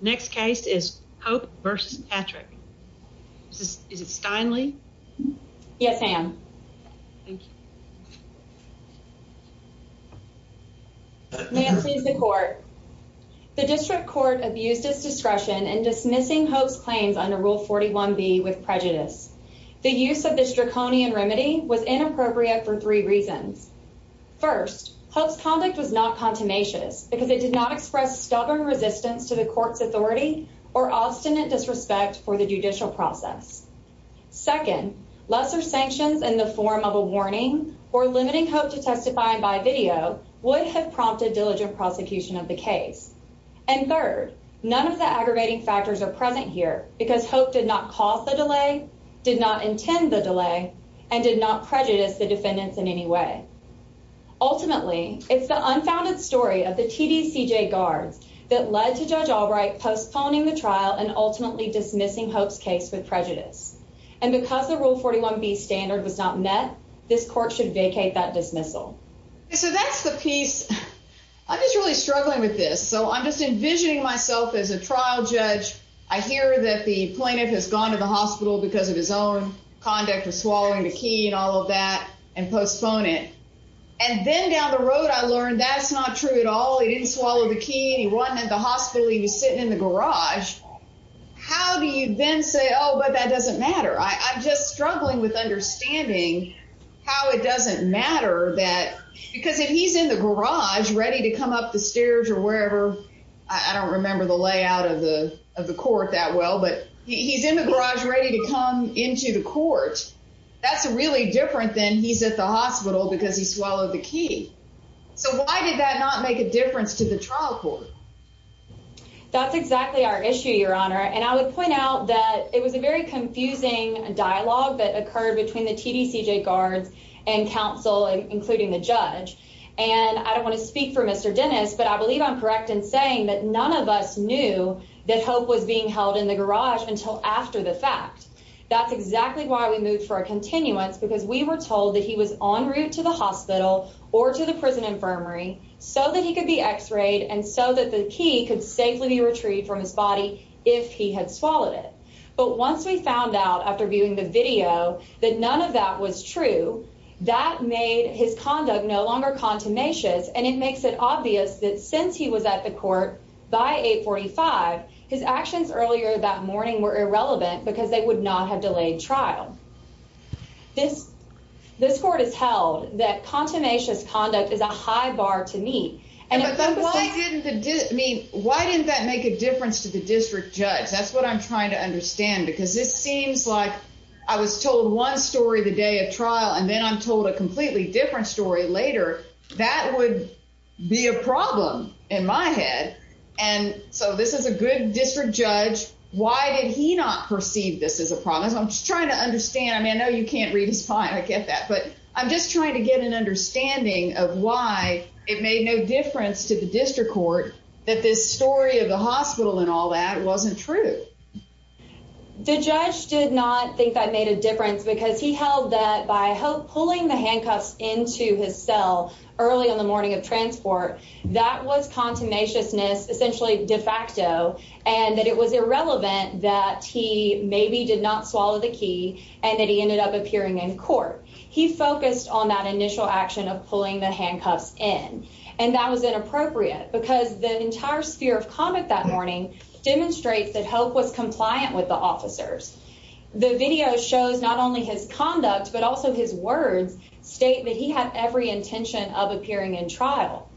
Next case is Hope v. Patrick. Is it Steinle? Yes, ma'am. May it please the court. The district court abused its discretion in dismissing Hope's claims under Rule 41B with prejudice. The use of this draconian remedy was inappropriate for three reasons. First, Hope's conduct was not contumacious because it did not express stubborn resistance to the court's authority or obstinate disrespect for the judicial process. Second, lesser sanctions in the form of a warning or limiting Hope to testify by video would have prompted diligent prosecution of the case. And third, none of the aggravating factors are present here because Hope did not cause the delay, did not intend the delay, and did not prejudice the PCJ guards that led to Judge Albright postponing the trial and ultimately dismissing Hope's case with prejudice. And because the Rule 41B standard was not met, this court should vacate that dismissal. So that's the piece. I'm just really struggling with this. So I'm just envisioning myself as a trial judge. I hear that the plaintiff has gone to the hospital because of his own conduct of swallowing the key and all of that and postpone it. And then down the road I learned that's not true at all. He didn't swallow the key and he wasn't at the hospital. He was sitting in the garage. How do you then say, oh, but that doesn't matter? I'm just struggling with understanding how it doesn't matter that because if he's in the garage ready to come up the stairs or wherever, I don't remember the layout of the court that well, but he's in the garage ready to come into the court. That's really different than he's at the hospital because he swallowed the key. So why did that not make a difference to the trial court? That's exactly our issue, Your Honor. And I would point out that it was a very confusing dialogue that occurred between the TDCJ guards and counsel, including the judge. And I don't want to speak for Mr. Dennis, but I believe I'm correct in saying that none of us knew that Hope was being held in the garage until after the fact. That's exactly why we moved for a continuance, because we were told that he was en route to the hospital or to the prison infirmary so that he could be x-rayed and so that the key could safely be retrieved from his body if he had swallowed it. But once we found out after viewing the video that none of that was true, that made his conduct no longer contumacious. And it makes it obvious that since he was at the court by 845, his actions earlier that morning were irrelevant because they would not have delayed trial. This court has held that contumacious conduct is a high bar to meet. Why didn't that make a difference to the district judge? That's what I'm trying to understand, because this seems like I was told one story the day of trial, and then I'm told a completely different story later. That would be a problem in my head. And so this is a good district judge. Why did he not perceive this as a problem? That's what I'm trying to understand. I mean, I know you can't read his mind. I get that. But I'm just trying to get an understanding of why it made no difference to the district court that this story of the hospital and all that wasn't true. The judge did not think that made a difference because he held that by pulling the handcuffs into his cell early on the morning of transport, that was contumaciousness essentially de facto, and that it was irrelevant that he maybe did not swallow the key and that he ended up appearing in court. He focused on that initial action of pulling the handcuffs in, and that was inappropriate because the entire sphere of conduct that morning demonstrates that Hope was compliant with the officers. The video shows not only his conduct, but also his words state that he had every intention of appearing in trial.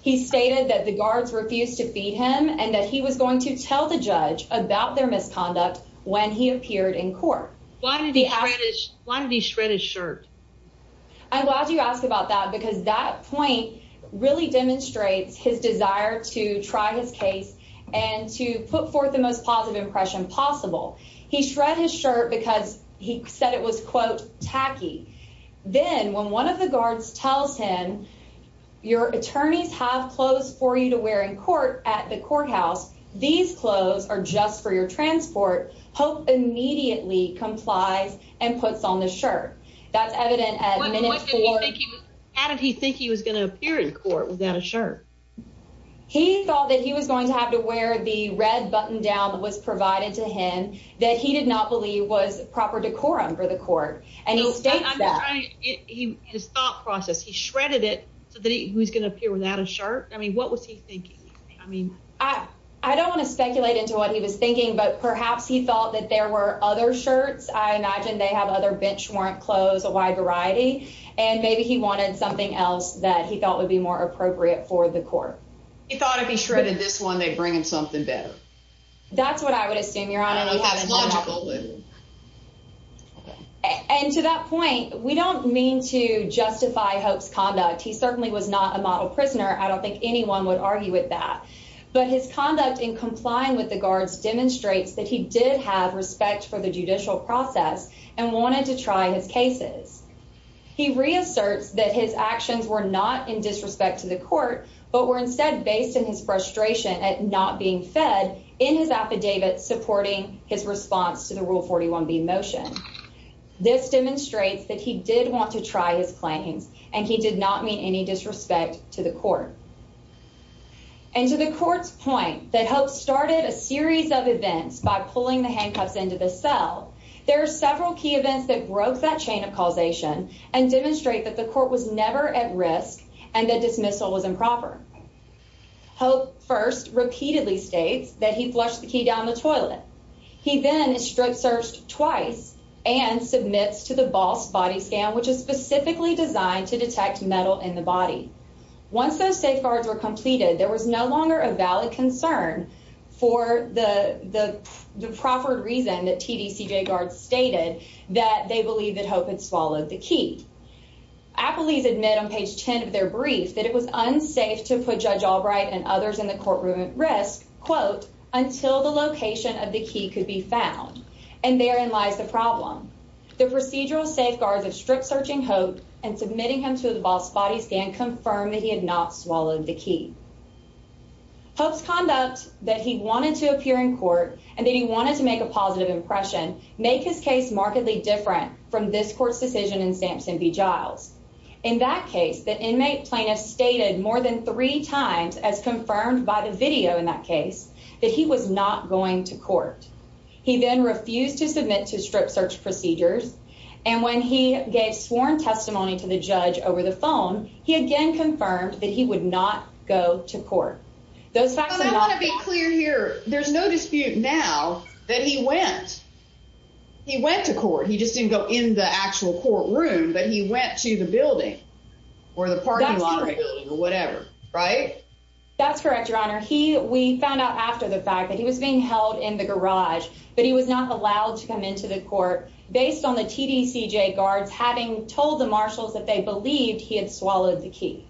He stated that the guards refused to feed him and that he was going to tell the judge about their misconduct when he appeared in court. Why did he shred his shirt? I'm glad you asked about that because that point really demonstrates his desire to try his case and to put forth the most positive impression possible. He shred his shirt because he said it was quote tacky. Then when one of the guards tells him your attorneys have clothes for you to wear in court at the courthouse, these clothes are just for your transport. Hope immediately complies and puts on the shirt. That's evident at minute four. How did he think he was going to appear in court without a shirt? He thought that he was going to have to wear the red button down was provided to him that he did not believe was proper decorum for the court and he states that his thought process. He shredded it so that he was going to appear without a shirt. I mean, what was he thinking? I mean, I don't want to speculate into what he was thinking, but perhaps he thought that there were other shirts. I imagine they have other bench warrant clothes, a wide variety, and maybe he wanted something else that he thought would be more appropriate for the court. He thought if he shredded this one, they bring him something better. That's what I would assume your honor. And to that point, we don't mean to justify Hope's conduct. He certainly was not a model prisoner. I don't think anyone would argue with that, but his conduct in complying with the guards demonstrates that he did have respect for the judicial process and wanted to try his cases. He reasserts that his frustration at not being fed in his affidavit supporting his response to the Rule 41b motion. This demonstrates that he did want to try his claims and he did not mean any disrespect to the court. And to the court's point that Hope started a series of events by pulling the handcuffs into the cell, there are several key events that broke that chain of causation and demonstrate that the Hope first repeatedly states that he flushed the key down the toilet. He then is strip searched twice and submits to the boss body scan, which is specifically designed to detect metal in the body. Once those safeguards were completed, there was no longer a valid concern for the proffered reason that TDCJ guards stated that they believed that Hope had swallowed the key. Appellees admit on page 10 of their brief that it was unsafe to put Judge Albright and others in the courtroom at risk, quote, until the location of the key could be found. And therein lies the problem. The procedural safeguards of strip searching Hope and submitting him to the boss body scan confirmed that he had not swallowed the key. Hope's conduct that he wanted to appear in court and that he wanted to make a positive impression make his case markedly from this court's decision in Samson v. Giles. In that case, the inmate plaintiff stated more than three times as confirmed by the video in that case that he was not going to court. He then refused to submit to strip search procedures. And when he gave sworn testimony to the judge over the phone, he again confirmed that he would not go to court. Those facts. I want to be clear here. There's no dispute now that he went. He went to court. He didn't go in the actual courtroom, but he went to the building or the parking lot or whatever, right? That's correct, Your Honor. He we found out after the fact that he was being held in the garage, but he was not allowed to come into the court based on the TDCJ guards having told the marshals that they believed he had swallowed the key.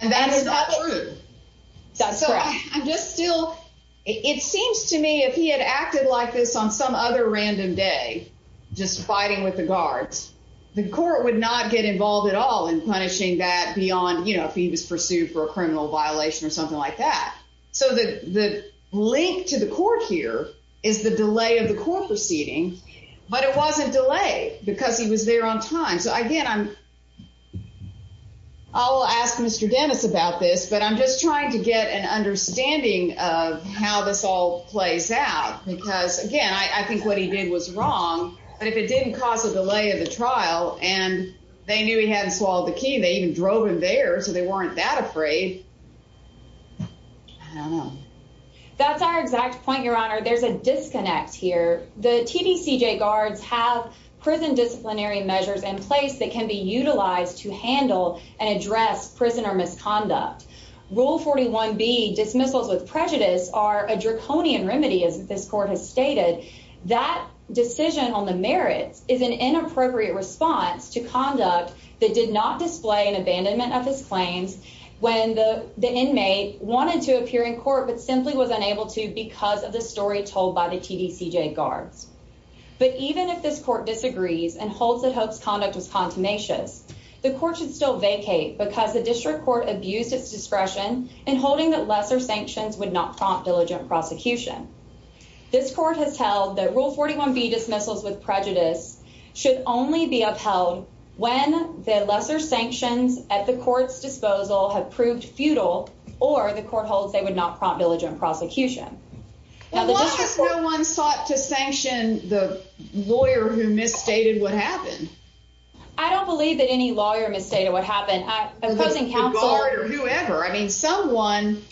And that is not true. That's correct. I'm just still it seems to me if he had acted like this on some other random day, just fighting with the guards, the court would not get involved at all in punishing that beyond, you know, if he was pursued for a criminal violation or something like that. So the link to the court here is the delay of the court proceeding, but it wasn't delay because he was there on time. So again, I'm. I'll ask Mr. Dennis about this, but I'm just trying to get an understanding of how this all plays out, because again, I think what he did was wrong. But if it didn't cause a delay of the trial and they knew he hadn't swallowed the key, they even drove him there. So they weren't that afraid. I don't know. That's our exact point, Your Honor. There's a disconnect here. The TDCJ guards have prison disciplinary measures in place that can be utilized to handle and address prisoner misconduct. Rule 41B dismissals with prejudice are a draconian remedy, as this court has stated. That decision on the merits is an inappropriate response to conduct that did not display an abandonment of his claims when the inmate wanted to appear in But even if this court disagrees and holds that Hope's conduct was continuous, the court should still vacate because the district court abused its discretion in holding that lesser sanctions would not prompt diligent prosecution. This court has held that Rule 41B dismissals with prejudice should only be upheld when the lesser sanctions at the court's disposal have proved futile or the court holds they would not prompt prosecution. Why has no one sought to sanction the lawyer who misstated what happened? I don't believe that any lawyer misstated what happened. The guard or whoever. I mean, someone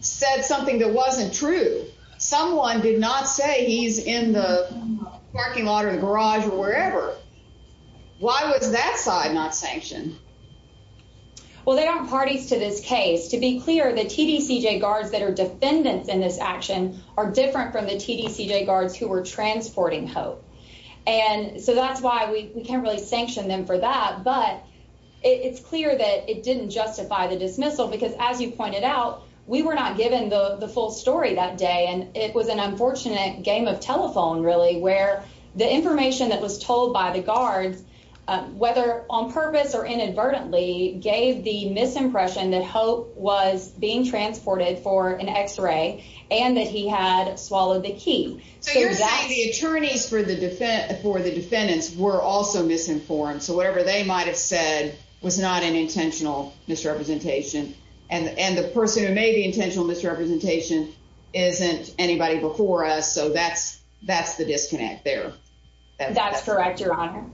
said something that wasn't true. Someone did not say he's in the parking lot or the garage or wherever. Why was that side not sanctioned? Well, there are parties to this case. To be clear, the TDCJ guards that are defendants in this action are different from the TDCJ guards who were transporting Hope. And so that's why we can't really sanction them for that. But it's clear that it didn't justify the dismissal because as you pointed out, we were not given the full story that day. And it was an unfortunate game of telephone, really, where the information that was told by the guards, whether on purpose or inadvertently, gave the misimpression that Hope was being transported for an x-ray and that he had swallowed the key. So you're saying the attorneys for the defendants were also misinformed. So whatever they might have said was not an intentional misrepresentation. And the person who made the intentional misrepresentation isn't anybody before us. So that's the disconnect there. That's correct, Your Honor.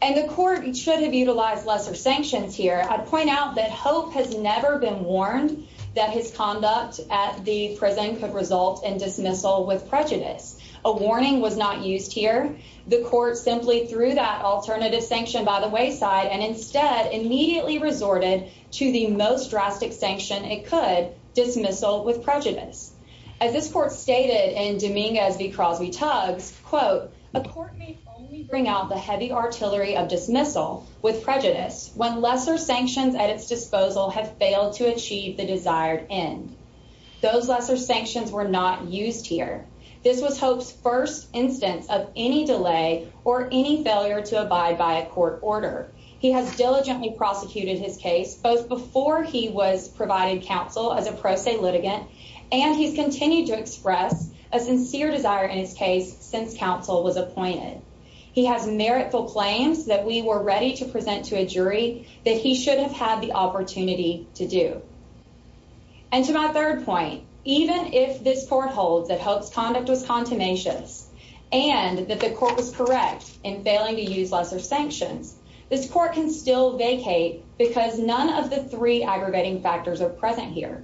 And the court should have utilized lesser sanctions here. I'd point out that Hope has never been warned that his conduct at the prison could result in dismissal with prejudice. A warning was not used here. The court simply threw that alternative sanction by the wayside and instead immediately resorted to the most drastic sanction it could, dismissal with prejudice. As this court stated in Dominguez v. Crosby-Tuggs, quote, a court may only bring out the heavy artillery of dismissal with prejudice when lesser sanctions at its disposal have failed to achieve the desired end. Those lesser sanctions were not used here. This was Hope's first instance of any delay or any failure to abide by a court order. He has diligently prosecuted his case, both before he was provided counsel as a pro se litigant, and he's continued to express a sincere desire in his case since counsel was appointed. He has meritful claims that we were ready to present to a jury that he should have had the opportunity to do. And to my third point, even if this court holds that Hope's conduct was contumacious and that the court was correct in failing to use lesser sanctions, this court can still vacate because none of the three aggravating factors are present here.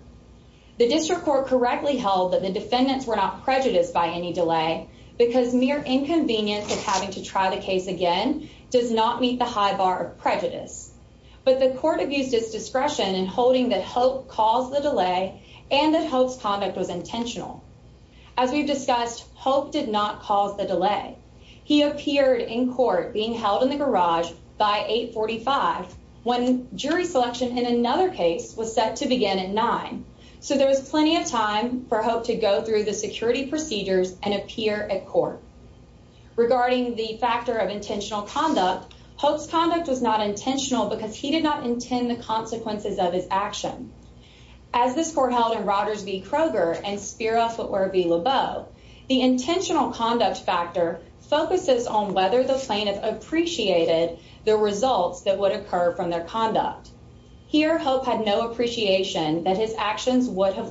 The district court correctly held that the defendants were not prejudiced by any delay because mere inconvenience of having to try the case again does not meet the high bar of prejudice. But the court abused its discretion in holding that Hope caused the delay and that Hope's conduct was intentional. As we've discussed, Hope did not cause the delay. He appeared in court being held in the garage by 845 when jury selection in another case was set to begin at 9. So there was plenty of time for Hope to go through the security procedures and appear at court. Regarding the factor of intentional conduct, Hope's conduct was not intentional because he did not intend the consequences of his action. As this court held in Rogers v. Kroger and Spiroff or v. Lebeau, the intentional conduct factor focuses on whether the plaintiff appreciated the results that would have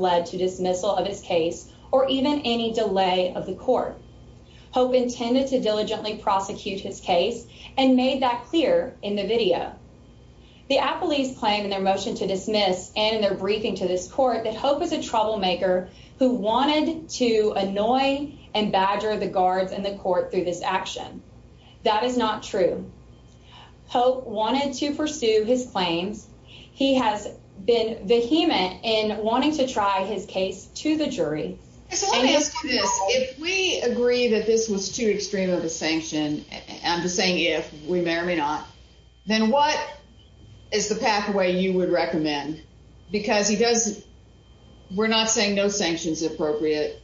led to dismissal of his case or even any delay of the court. Hope intended to diligently prosecute his case and made that clear in the video. The appellees claim in their motion to dismiss and in their briefing to this court that Hope was a troublemaker who wanted to annoy and badger the guards and the court through this action. That is not true. Hope wanted to pursue his claims. He has been vehement in wanting to try his case to the jury. If we agree that this was too extreme of a sanction, I'm just saying if, we may or may not, then what is the pathway you would recommend? Because he does, we're not saying no sanction's appropriate.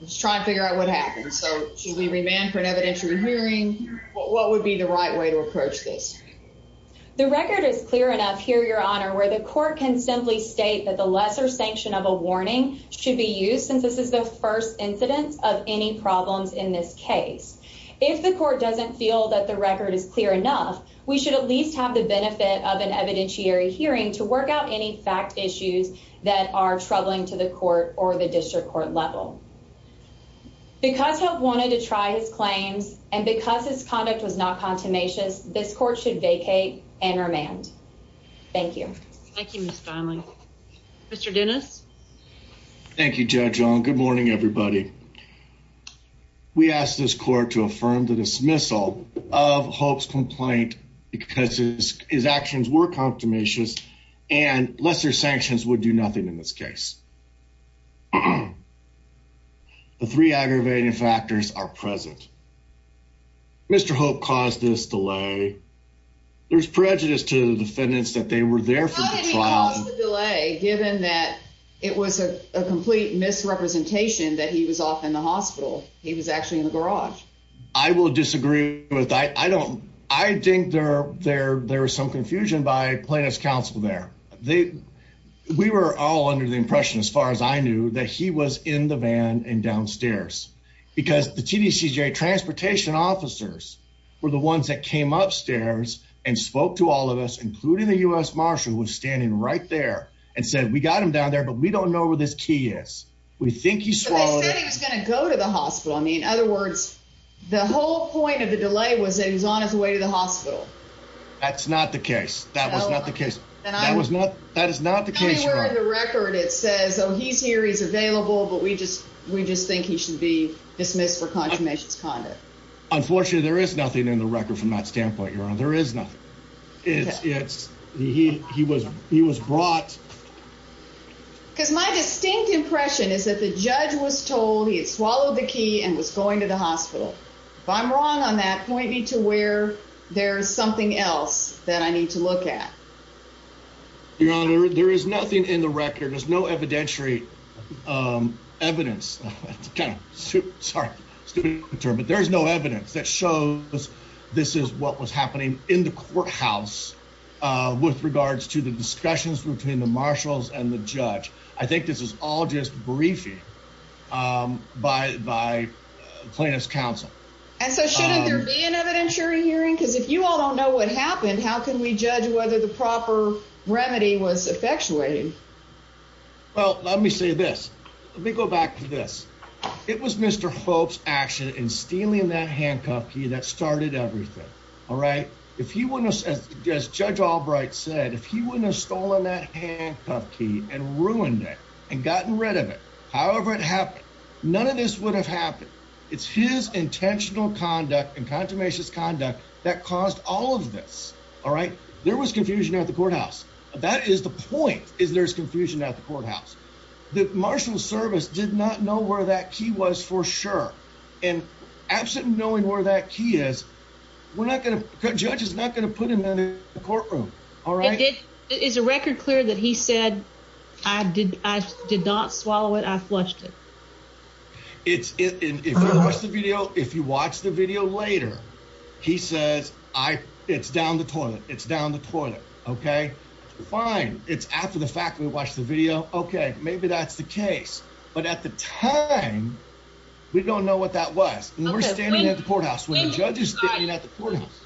Let's try and figure out what happened. So should we remand for an evidentiary hearing? What would be the right way to approach this? The record is clear enough here, Your Honor, where the court can simply state that the lesser sanction of a warning should be used since this is the first incidence of any problems in this case. If the court doesn't feel that the record is clear enough, we should at least have the benefit of an evidentiary hearing to work out any fact issues that are troubling to the court or the district court level. Because Hope wanted to try his claims and because his conduct was not contumacious, this court should vacate and remand. Thank you. Thank you, Ms. Donnelly. Mr. Dennis. Thank you, Judge Ong. Good morning, everybody. We ask this court to affirm the dismissal of Hope's complaint because his actions were contumacious and lesser sanctions would do nothing in this case. The three aggravating factors are present. Mr. Hope caused this delay. There's prejudice to the defendants that they were there for the trial. He caused the delay given that it was a complete misrepresentation that he was off in the hospital. He was actually in the garage. I will disagree with that. I don't. I think there there there was some confusion by plaintiff's counsel there. They we were all under the impression, as far as I knew, that he was in the van and downstairs because the TTCJ transportation officers were the ones that came upstairs and spoke to all of us, including the U.S. Marshal, was standing right there and said, We got him down there, but we don't know where this key is. We think he's going to go to the hospital. I mean, in other words, the whole point of the delay was that he's on his way to the hospital. That's not the case. That was not the case. That was not. That is not the case. Anywhere in the record, it says, Oh, he's here. He's available. But we just we just think he should be dismissed for consummation's conduct. Unfortunately, there is nothing in the record from that standpoint. There is nothing. It's he he was he was brought because my distinct impression is that the judge was told he had swallowed the key and was going to the hospital. If I'm wrong on that, point me to where there's something else that I need to look at. Your Honor, there is nothing in the record. There's no evidentiary evidence. It's kind of stupid. Sorry, stupid term. But there is no evidence that shows this. This is what was happening in the courthouse with regards to the discussions between the marshals and the judge. I think this is all just briefing by by plaintiff's counsel. And so shouldn't there be an evidentiary hearing? Because if you all don't know what happened, how can we judge whether the proper remedy was effectuated? Well, let me say this. Let me go back to this. It was Mr. Hope's action in stealing that handcuff key that started everything. All right. If he wouldn't have, as Judge Albright said, if he wouldn't have stolen that handcuff key and ruined it and gotten rid of it, however it happened, none of this would have happened. It's his intentional conduct and contumacious conduct that caused all of this. All right. There was confusion at the courthouse. That is the point, is there's confusion at the courthouse. The marshal's service did not know where that key was for sure. And absent knowing where that key is, we're not going to, the judge is not going to put the key in the courtroom. All right. Is the record clear that he said, I did not swallow it, I flushed it? If you watch the video later, he says, it's down the toilet. It's down the toilet. Okay. Fine. It's after the fact we watched the video. Okay. Maybe that's the case. But at the time, we don't know what that was. And we're standing at the courthouse when the judge is standing at the courthouse.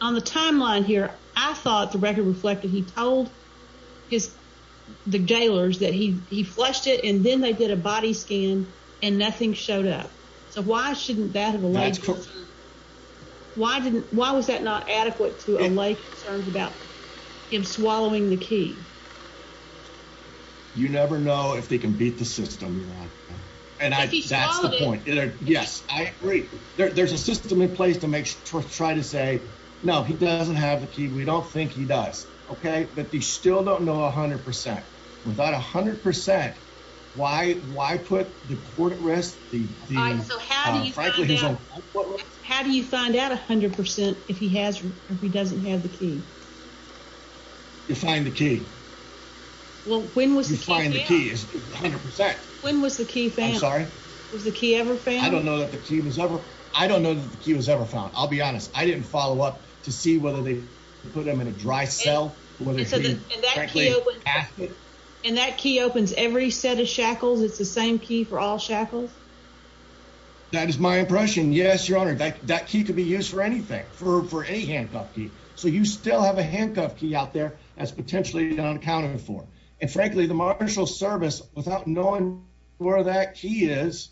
On the timeline here, I thought the record reflected, he told his, the gaolers that he, he flushed it. And then they did a body scan and nothing showed up. So why shouldn't that have alleged? Why didn't, why was that not adequate to allay concerns about him swallowing the key? You never know if they can beat the system. And that's the point. Yes, I agree. There's a system in place to make sure to try to say, no, he doesn't have the key. We don't think he does. Okay. But you still don't know a hundred percent. Without a hundred percent, why, why put the court at risk? How do you find out a hundred percent if he has, or if he doesn't have the key? You find the key. Well, when was the key found? When was the key found? I'm sorry. Was the key ever found? I don't know that the key was ever, I don't know that the key was ever found. I'll be honest. I didn't follow up to see whether they put them in a dry cell. And that key opens every set of shackles. It's the same key for all shackles. That is my impression. Yes, your honor. That, that key could be used for anything for, for any handcuff key. So you still have a handcuff key out there as potentially unaccounted for. And frankly, the marshal service, without knowing where that key is,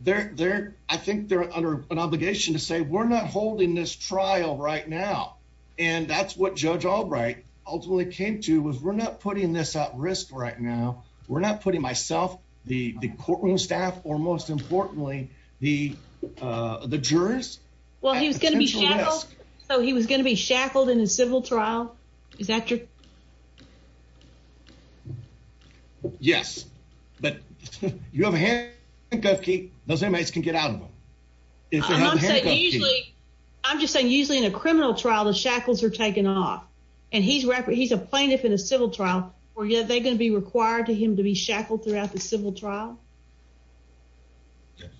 they're, they're, I think they're under an obligation to say, we're not holding this trial right now. And that's what judge Albright ultimately came to was we're not putting this at risk right now. We're not putting myself, the courtroom staff, or most importantly, the, the jurors. Well, he was going to be shackled. So he was going to be shackled in a civil trial. Is that true? Yes, but you have a handcuff key. Those inmates can get out of them. I'm just saying, usually in a criminal trial, the shackles are taken off and he's a plaintiff in a civil trial. Were they going to be required to him to be shackled throughout the civil trial?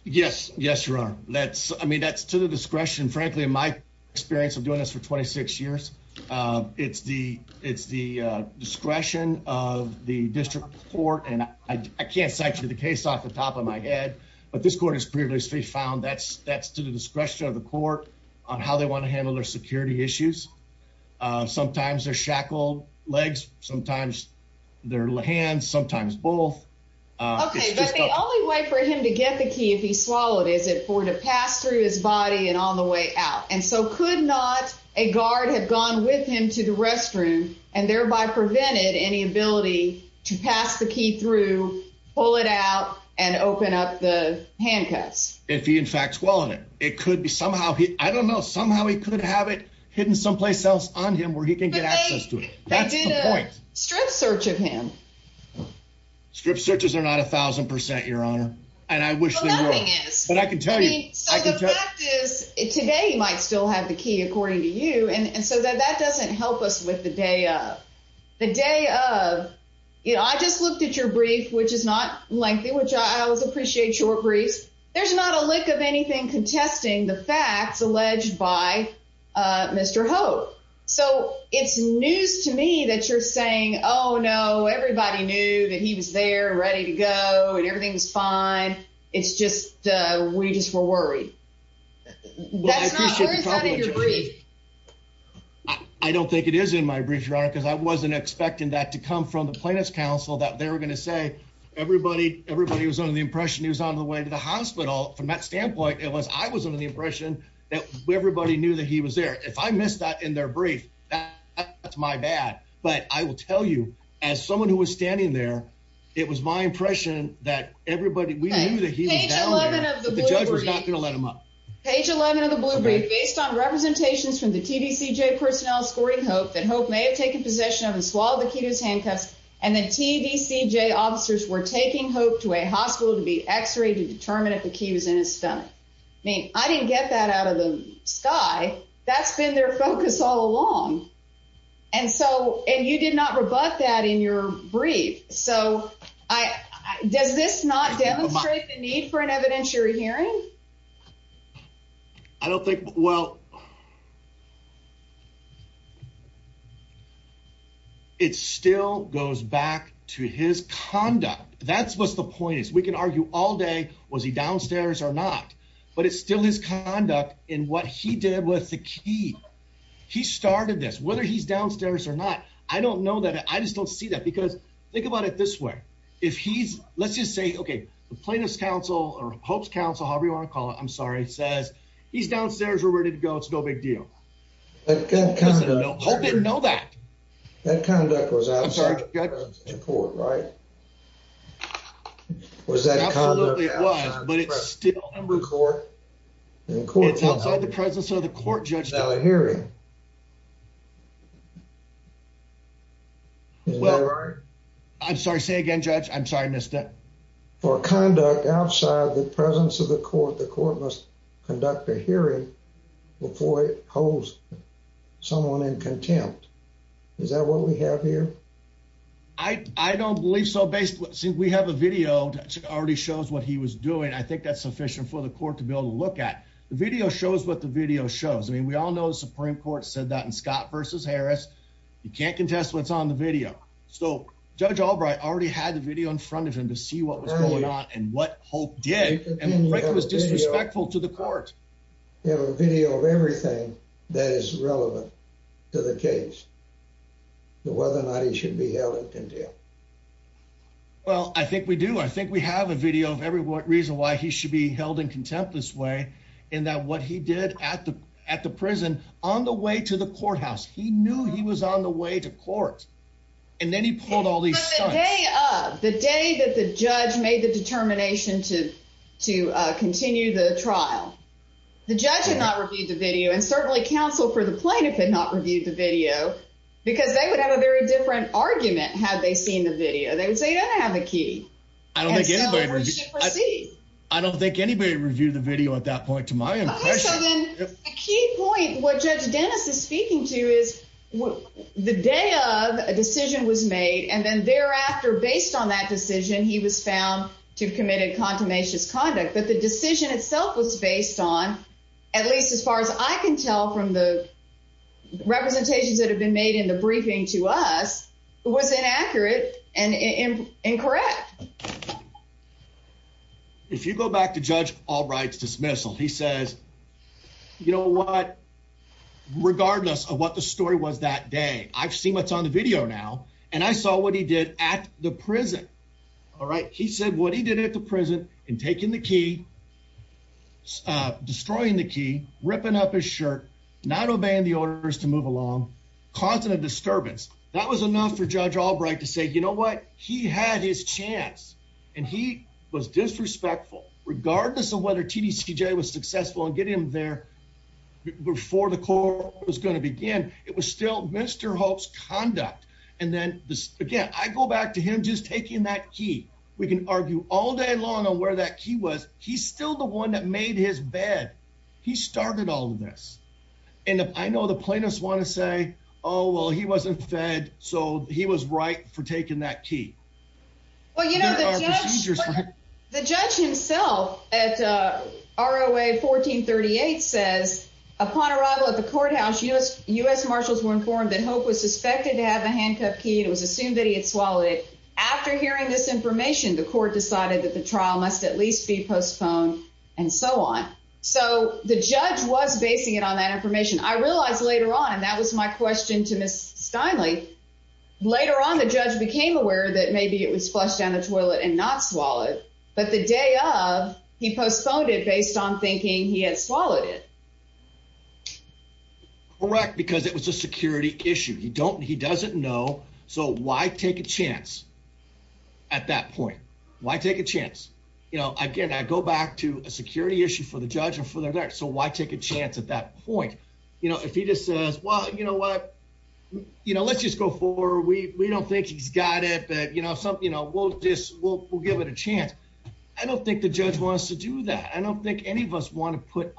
Yes. Yes, your honor. That's, I mean, that's to the discretion, frankly, in my experience of doing this for 26 years. It's the, it's the discretion of the district court. And I can't cite you the case off the top of my head, but this court has previously found that's, that's to the discretion of the court on how they want to handle their security issues. Sometimes they're shackled legs, sometimes their hands, sometimes both. Okay. But the only way for him to get the key, if he swallowed, is it for to pass through his and so could not a guard had gone with him to the restroom and thereby prevented any ability to pass the key through, pull it out and open up the handcuffs. If he, in fact, swallowed it, it could be somehow he, I don't know, somehow he could have it hidden someplace else on him where he can get access to it. That's the point. They did a strip search of him. Strip searches are not a thousand percent, your honor. And I wish, but I can tell you, so the fact is today might still have the key according to you. And so that, that doesn't help us with the day of the day of, you know, I just looked at your brief, which is not lengthy, which I always appreciate short briefs. There's not a lick of anything contesting the facts alleged by, uh, Mr. Hope. So it's news to me that you're saying, oh no, everybody knew that he was there ready to go and everything's fine. It's just, uh, we just were worried. I don't think it is in my brief, your honor, because I wasn't expecting that to come from the plaintiff's counsel that they were going to say everybody, everybody was under the impression he was on the way to the hospital. From that standpoint, it was, I was under the impression that everybody knew that he was there. If I missed that in their brief, that's my bad. But I will tell you as someone who was standing there, it was my impression that everybody, we knew that he was down there, but the judge was not going to let him up. Page 11 of the blue brief based on representations from the TDCJ personnel scoring hope that hope may have taken possession of and swallowed the key to his handcuffs. And then TDCJ officers were taking hope to a hospital to be x-rayed to determine if the key was in his stomach. I mean, I didn't get that out of the sky. That's been their focus all along. And so, and you did not rebut that in your brief. So I, does this not demonstrate the need for an evidentiary hearing? I don't think, well, it still goes back to his conduct. That's what's the point is we can argue all day. Was he in the hospital? I don't know that. I just don't see that because think about it this way. If he's, let's just say, okay, the plaintiff's counsel or hope's counsel, however you want to call it, I'm sorry. It says he's downstairs. We're ready to go. It's no big deal. Hope didn't know that. That conduct was outside the presence of the court, right? Was that conduct outside the presence of the court? It's outside the presence of the court, Judge. Is that right? I'm sorry, say again, Judge. I'm sorry I missed that. For conduct outside the presence of the court, the court must conduct a hearing before it holds someone in contempt. Is that what we have here? I don't believe so. Since we have a video that already shows what he was doing, I think that's sufficient for the court to be able to look at. The video shows what the video shows. I mean, we all know the Supreme Court said that in Scott versus Harris, you can't contest what's on the video. So Judge Albright already had the video in front of him to see what was going on and what Hope did. And Frank was disrespectful to the court. You have a video of everything that is relevant to the case, whether or not he should be held in contempt. Well, I think we do. I think we have a video of every reason why he should be held in contempt this way, in that what he did at the prison, on the way to the courthouse, he knew he was on the way to court. And then he pulled all these stunts. But the day that the judge made the determination to continue the trial, the judge had not reviewed the video, and certainly counsel for the plaintiff had not reviewed the video, because they would have a very different argument had they seen the video. They would say, you don't have the key. I don't think anybody reviewed the video at that point, to my impression. Okay, so then the key point, what Judge Dennis is speaking to is the day of a decision was made, and then thereafter, based on that decision, he was found to have committed a contumacious conduct. But the decision itself was based on, at least as far as I can tell from the representations that have been made in the briefing to us, was inaccurate and incorrect. If you go back to Judge Albright's dismissal, he says, you know what, regardless of what the story was that day, I've seen what's on the video now, and I saw what he did at the prison. All right, he said what he did at the prison in taking the key, destroying the key, ripping up his shirt, not obeying the orders to move along, causing a disturbance. That was enough for Judge Albright to say, you know what, he had his chance, and he was disrespectful. Regardless of whether TDCJ was successful in getting him there before the court was going to begin, it was still Mr. Hope's key. We can argue all day long on where that key was. He's still the one that made his bed. He started all of this, and I know the plaintiffs want to say, oh, well, he wasn't fed, so he was right for taking that key. Well, you know, the judge himself at ROA 1438 says, upon arrival at the courthouse, U.S. marshals were informed that Hope was suspected to have a handcuffed key and it was assumed that he had swallowed it. After hearing this information, the court decided that the trial must at least be postponed and so on. So the judge was basing it on that information. I realized later on, and that was my question to Ms. Steinle, later on the judge became aware that maybe it was flushed down the toilet and not swallowed, but the day of, he postponed it based on thinking he had swallowed it. Correct, because it was a security issue. He doesn't know, why take a chance at that point? Why take a chance? Again, I go back to a security issue for the judge and for their lawyer, so why take a chance at that point? If he just says, well, you know what, let's just go forward. We don't think he's got it, but we'll give it a chance. I don't think the judge wants to do that. I don't think any of us want to put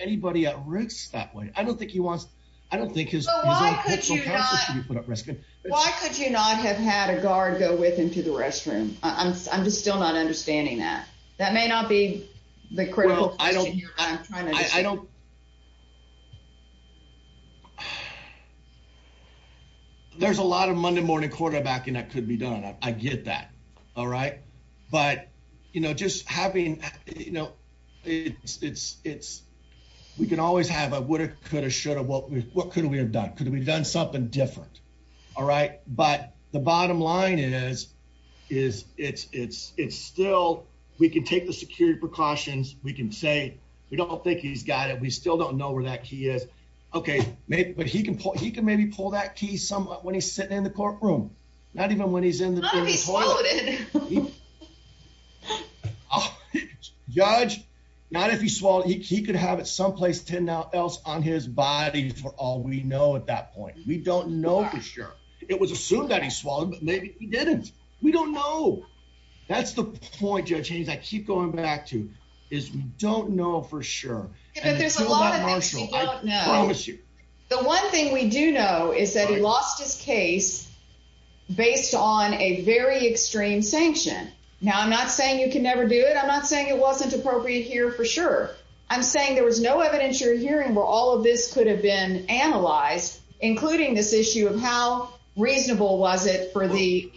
anybody at risk that way. I don't think he wants, I don't think his own personal counsel should be put at risk. Why could you not have had a guard go with him to the restroom? I'm just still not understanding that. That may not be the critical question here, but I'm trying to understand. I don't, there's a lot of Monday morning quarterbacking that could be done. I get that. But just having, we can always have a woulda, coulda, shoulda, what could we have done? Could we have done something different? But the bottom line is, it's still, we can take the security precautions. We can say, we don't think he's got it. We still don't know where that key is. But he can maybe pull that key somewhat when he's sitting in the courtroom, not even when he's in the courtroom. Judge, not if he swallowed, he could have it someplace else on his body for all we know at that point. We don't know for sure. It was assumed that he swallowed, but maybe he didn't. We don't know. That's the point, Judge Haynes, I keep going back to, is we don't know for sure. There's a lot of things we don't know. I promise you. The one thing we do know is that he sanctioned. Now, I'm not saying you can never do it. I'm not saying it wasn't appropriate here for sure. I'm saying there was no evidence you're hearing where all of this could have been analyzed, including this issue of how reasonable was it for the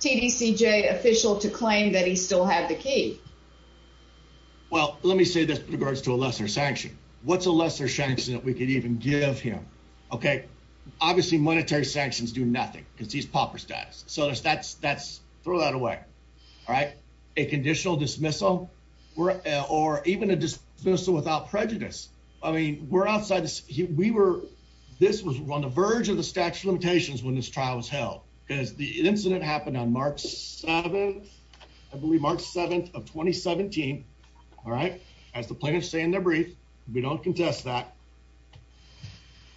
TDCJ official to claim that he still had the key. Well, let me say this in regards to a lesser sanction. What's a lesser sanction that we could even give him? Okay. Obviously, monetary sanctions do nothing because so that's throw that away. All right. A conditional dismissal or even a dismissal without prejudice. I mean, we're outside. This was on the verge of the statute of limitations when this trial was held because the incident happened on March 7th. I believe March 7th of 2017. All right. As the plaintiffs say in their brief, we don't contest that.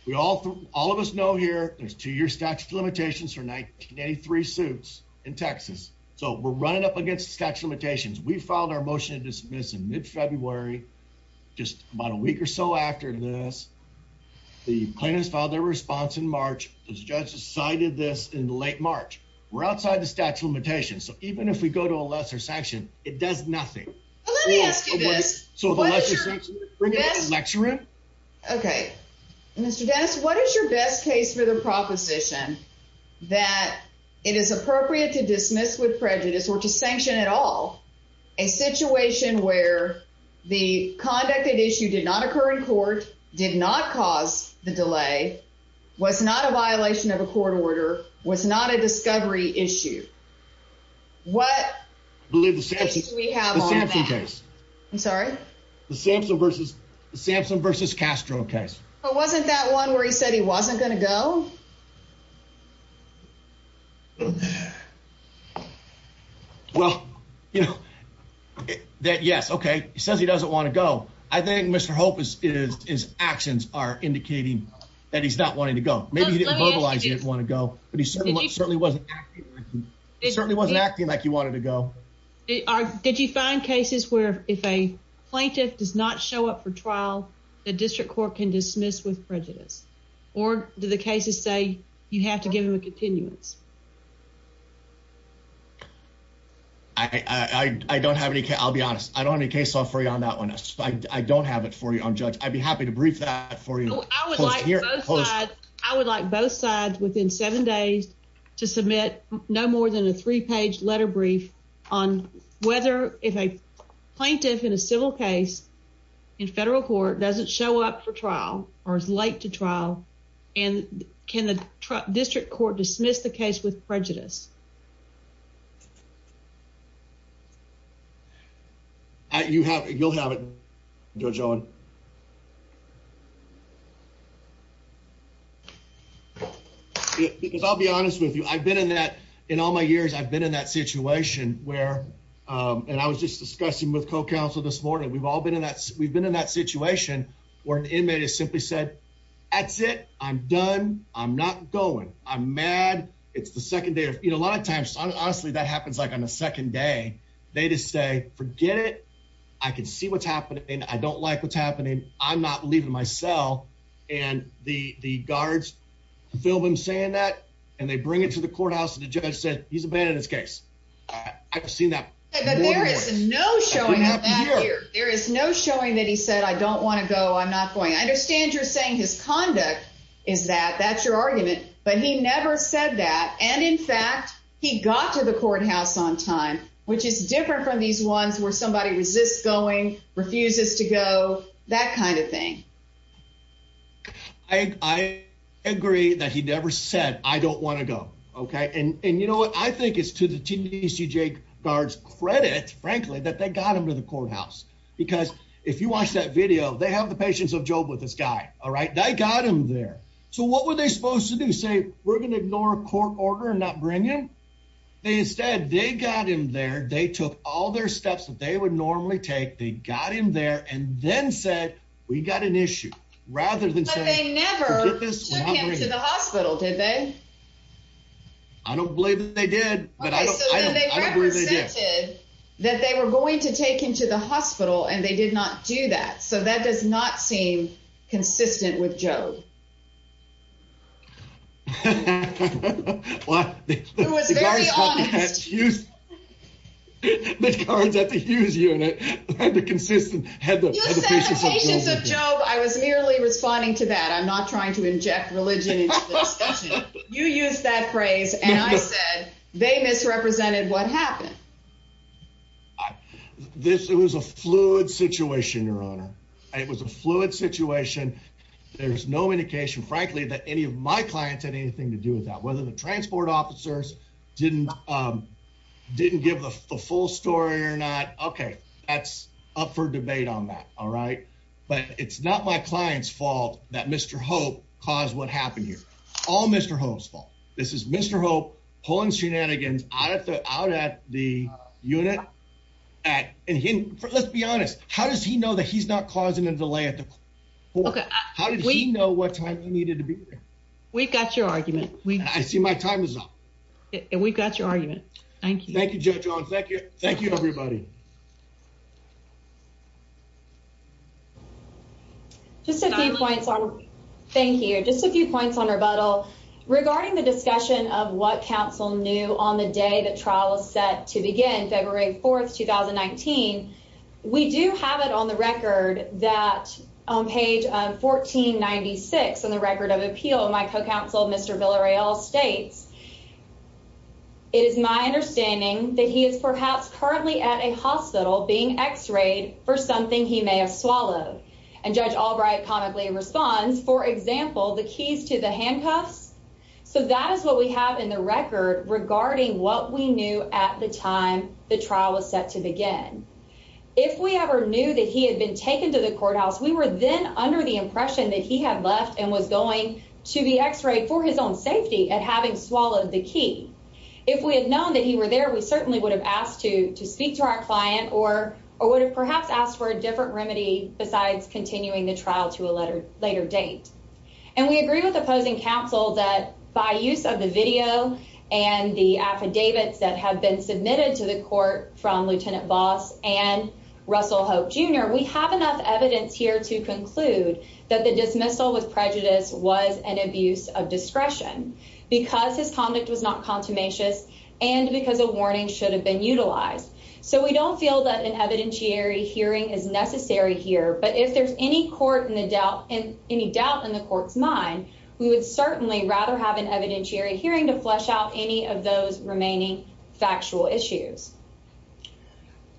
We all all of us know here there's two years statute of limitations for 1983 suits in Texas. So we're running up against statute of limitations. We filed our motion to dismiss in mid-February just about a week or so after this. The plaintiffs filed their response in March. The judge decided this in late March. We're outside the statute of limitations. So even if we go to a lesser sanction, it does nothing. Let me ask you this. So the lesser sanction? Okay. Mr. Dennis, what is your best case for the proposition that it is appropriate to dismiss with prejudice or to sanction at all a situation where the conducted issue did not occur in court, did not cause the I believe the Sampson case. I'm sorry? The Sampson versus Castro case. But wasn't that one where he said he wasn't going to go? Well, you know, that yes, okay. He says he doesn't want to go. I think Mr. Hope's actions are indicating that he's not wanting to go. Maybe he didn't verbalize he didn't want to go, but he certainly wasn't acting like he wanted to go. Did you find cases where if a plaintiff does not show up for trial, the district court can dismiss with prejudice? Or do the cases say you have to give him a continuance? I don't have any. I'll be honest. I don't have any case law for you on that one. I don't have it for you on judge. I'd be happy to brief that for you. I would like both sides within seven days to submit no more than a three page letter brief on whether if a plaintiff in a civil case in federal court doesn't show up for trial or is late to trial. And can the district court dismiss the case with prejudice? I you have. You'll have it. Judge Owen. Because I'll be honest with you. I've been in that in all my years. I've been in that situation where I was just discussing with co council this morning. We've all been in that. We've been in that situation where an inmate is simply said, That's it. I'm done. I'm not going. I'm mad. It's the second day. A lot of times, honestly, that happens like on the second day. They just say, Forget it. I can see what's happening. I don't like what's happening. I'm not leaving my cell. And the guards film him saying that, and they bring it to the courthouse. And the judge said he's abandoned his case. I've seen that. There is no showing up here. There is no showing that he said, I don't want to go. I'm not going. I understand you're saying his conduct is that that's your argument. But he never said that. And in fact, he got to the courthouse on time, which is different from these ones where somebody resists going, refuses to go, that kind of thing. I agree that he never said I don't want to go. Okay. And you know what I think is to the TDC Jake guards credit, frankly, that they got him to the courthouse. Because if you watch that video, they have the patients of job with this guy. All right. They got him there. So what were they supposed to do? Say, we're going to ignore a court order and not bring him. They instead, they got him there. They took all their steps that they would normally take. They got him there and then said, we got an issue rather than saying never to the hospital. Did they, I don't believe that they did, but I don't believe that they were going to take him to the hospital and they did not do that. So that does not seem consistent with Joe. Well, the guards at the huge unit, the consistent had the job. I was merely responding to that. I'm not trying to inject religion. You use that phrase. And I said, they misrepresented what happened. This, it was a fluid situation, your honor. It was a fluid situation. There's no indication, frankly, that any of my clients had anything to do with that. Whether the transport officers didn't, um, didn't give the full story or not. Okay. That's up for debate on that. All right. But it's not my client's fault that Mr. Hope caused what happened here. All Mr. Hope's out at the unit at, and let's be honest, how does he know that he's not causing a delay at the court? How did he know what time he needed to be there? We've got your argument. I see my time is up. And we've got your argument. Thank you. Thank you, Joe Jones. Thank you. Thank you, everybody. Just a few points on, thank you. Just a few points on rebuttal regarding the discussion of what counsel knew on the day the trial is set to begin February 4th, 2019. We do have it on the record that on page 1496 on the record of appeal, my co-counsel, Mr. Villareal states, it is my understanding that he is perhaps currently at a hospital being x-rayed for something he may have swallowed. And Judge Albright comically responds, for example, the keys to the handcuffs. So that is what we have in the record regarding what we knew at the time the trial was set to begin. If we ever knew that he had been taken to the courthouse, we were then under the impression that he had left and was going to be x-rayed for his own safety at having swallowed the key. If we had known that he were there, we certainly would have asked to speak to our client or or would have perhaps asked for a different remedy besides continuing the trial to a later date. And we agree with opposing counsel that by use of the video and the affidavits that have been submitted to the court from Lieutenant Voss and Russell Hope Jr., we have enough evidence here to conclude that the dismissal with prejudice was an abuse of discretion because his conduct was not consummation and because a warning should have been utilized. So we don't feel that an any doubt in the court's mind, we would certainly rather have an evidentiary hearing to flesh out any of those remaining factual issues.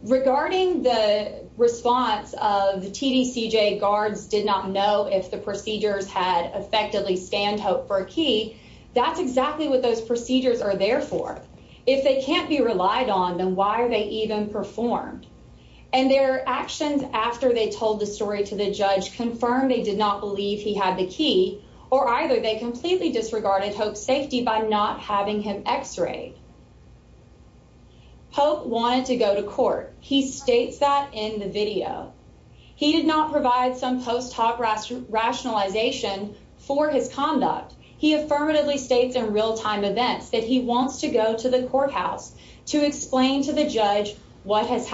Regarding the response of the TDCJ guards did not know if the procedures had effectively scanned Hope for a key, that's exactly what those procedures are there for. If they can't be relied on, then why are they even performed? And their actions after they told the story to the judge confirmed they did not believe he had the key or either they completely disregarded Hope's safety by not having him x-rayed. Hope wanted to go to court. He states that in the video. He did not provide some post hoc rationalization for his conduct. He affirmatively states in real-time events that he wants to go to the courthouse to explain to the judge what has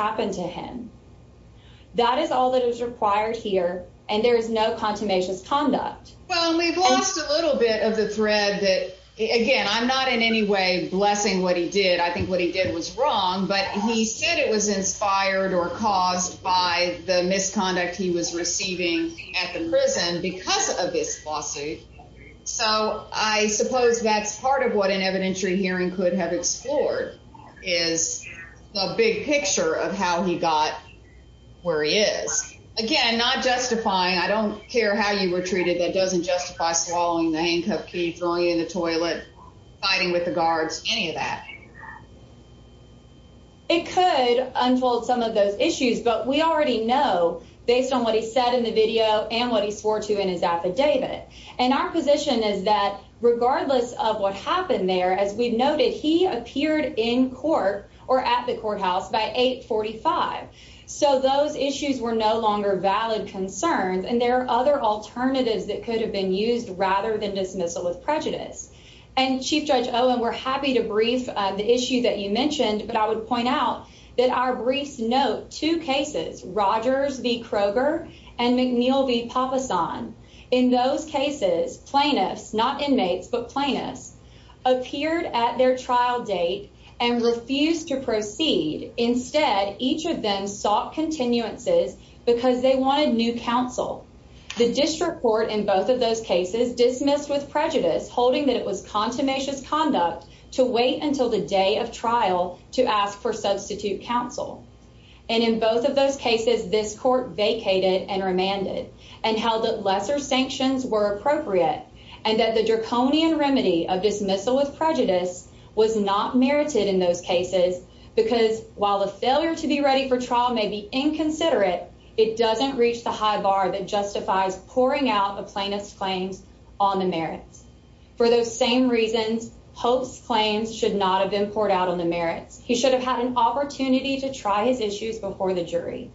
required here and there is no consummation conduct. Well, we've lost a little bit of the thread that again, I'm not in any way blessing what he did. I think what he did was wrong, but he said it was inspired or caused by the misconduct he was receiving at the prison because of this lawsuit. So I suppose that's part of what an evidentiary hearing could have explored is the big picture of how he got where he is. Again, not justifying, I don't care how you were treated, that doesn't justify swallowing the handcuff key, throwing it in the toilet, fighting with the guards, any of that. It could unfold some of those issues, but we already know based on what he said in the video and what he swore to in his affidavit. And our position is regardless of what happened there, as we noted, he appeared in court or at the courthouse by 845. So those issues were no longer valid concerns. And there are other alternatives that could have been used rather than dismissal with prejudice. And Chief Judge Owen, we're happy to brief the issue that you mentioned, but I would point out that our briefs note two cases, Rogers v. Kroger and McNeil v. Papasan. In those cases, plaintiffs, not inmates, but plaintiffs, appeared at their trial date and refused to proceed. Instead, each of them sought continuances because they wanted new counsel. The district court in both of those cases dismissed with prejudice, holding that it was contumacious conduct to wait until the day of trial to ask for substitute counsel. And in both of those cases, this court vacated and remanded and held that lesser sanctions were appropriate and that the draconian remedy of dismissal with prejudice was not merited in those cases because while the failure to be ready for trial may be inconsiderate, it doesn't reach the high bar that justifies pouring out the plaintiff's claims on the merits. For those same reasons, Pope's claims should not have been poured out on the merits. He should have had an opportunity to try his issues before the jury.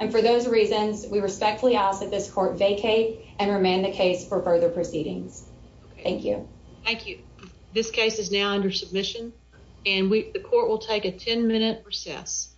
And for those reasons, we respectfully ask that this court vacate and remand the case for further proceedings. Thank you. Thank you. This case is now under submission and the court will take a 10-minute recess.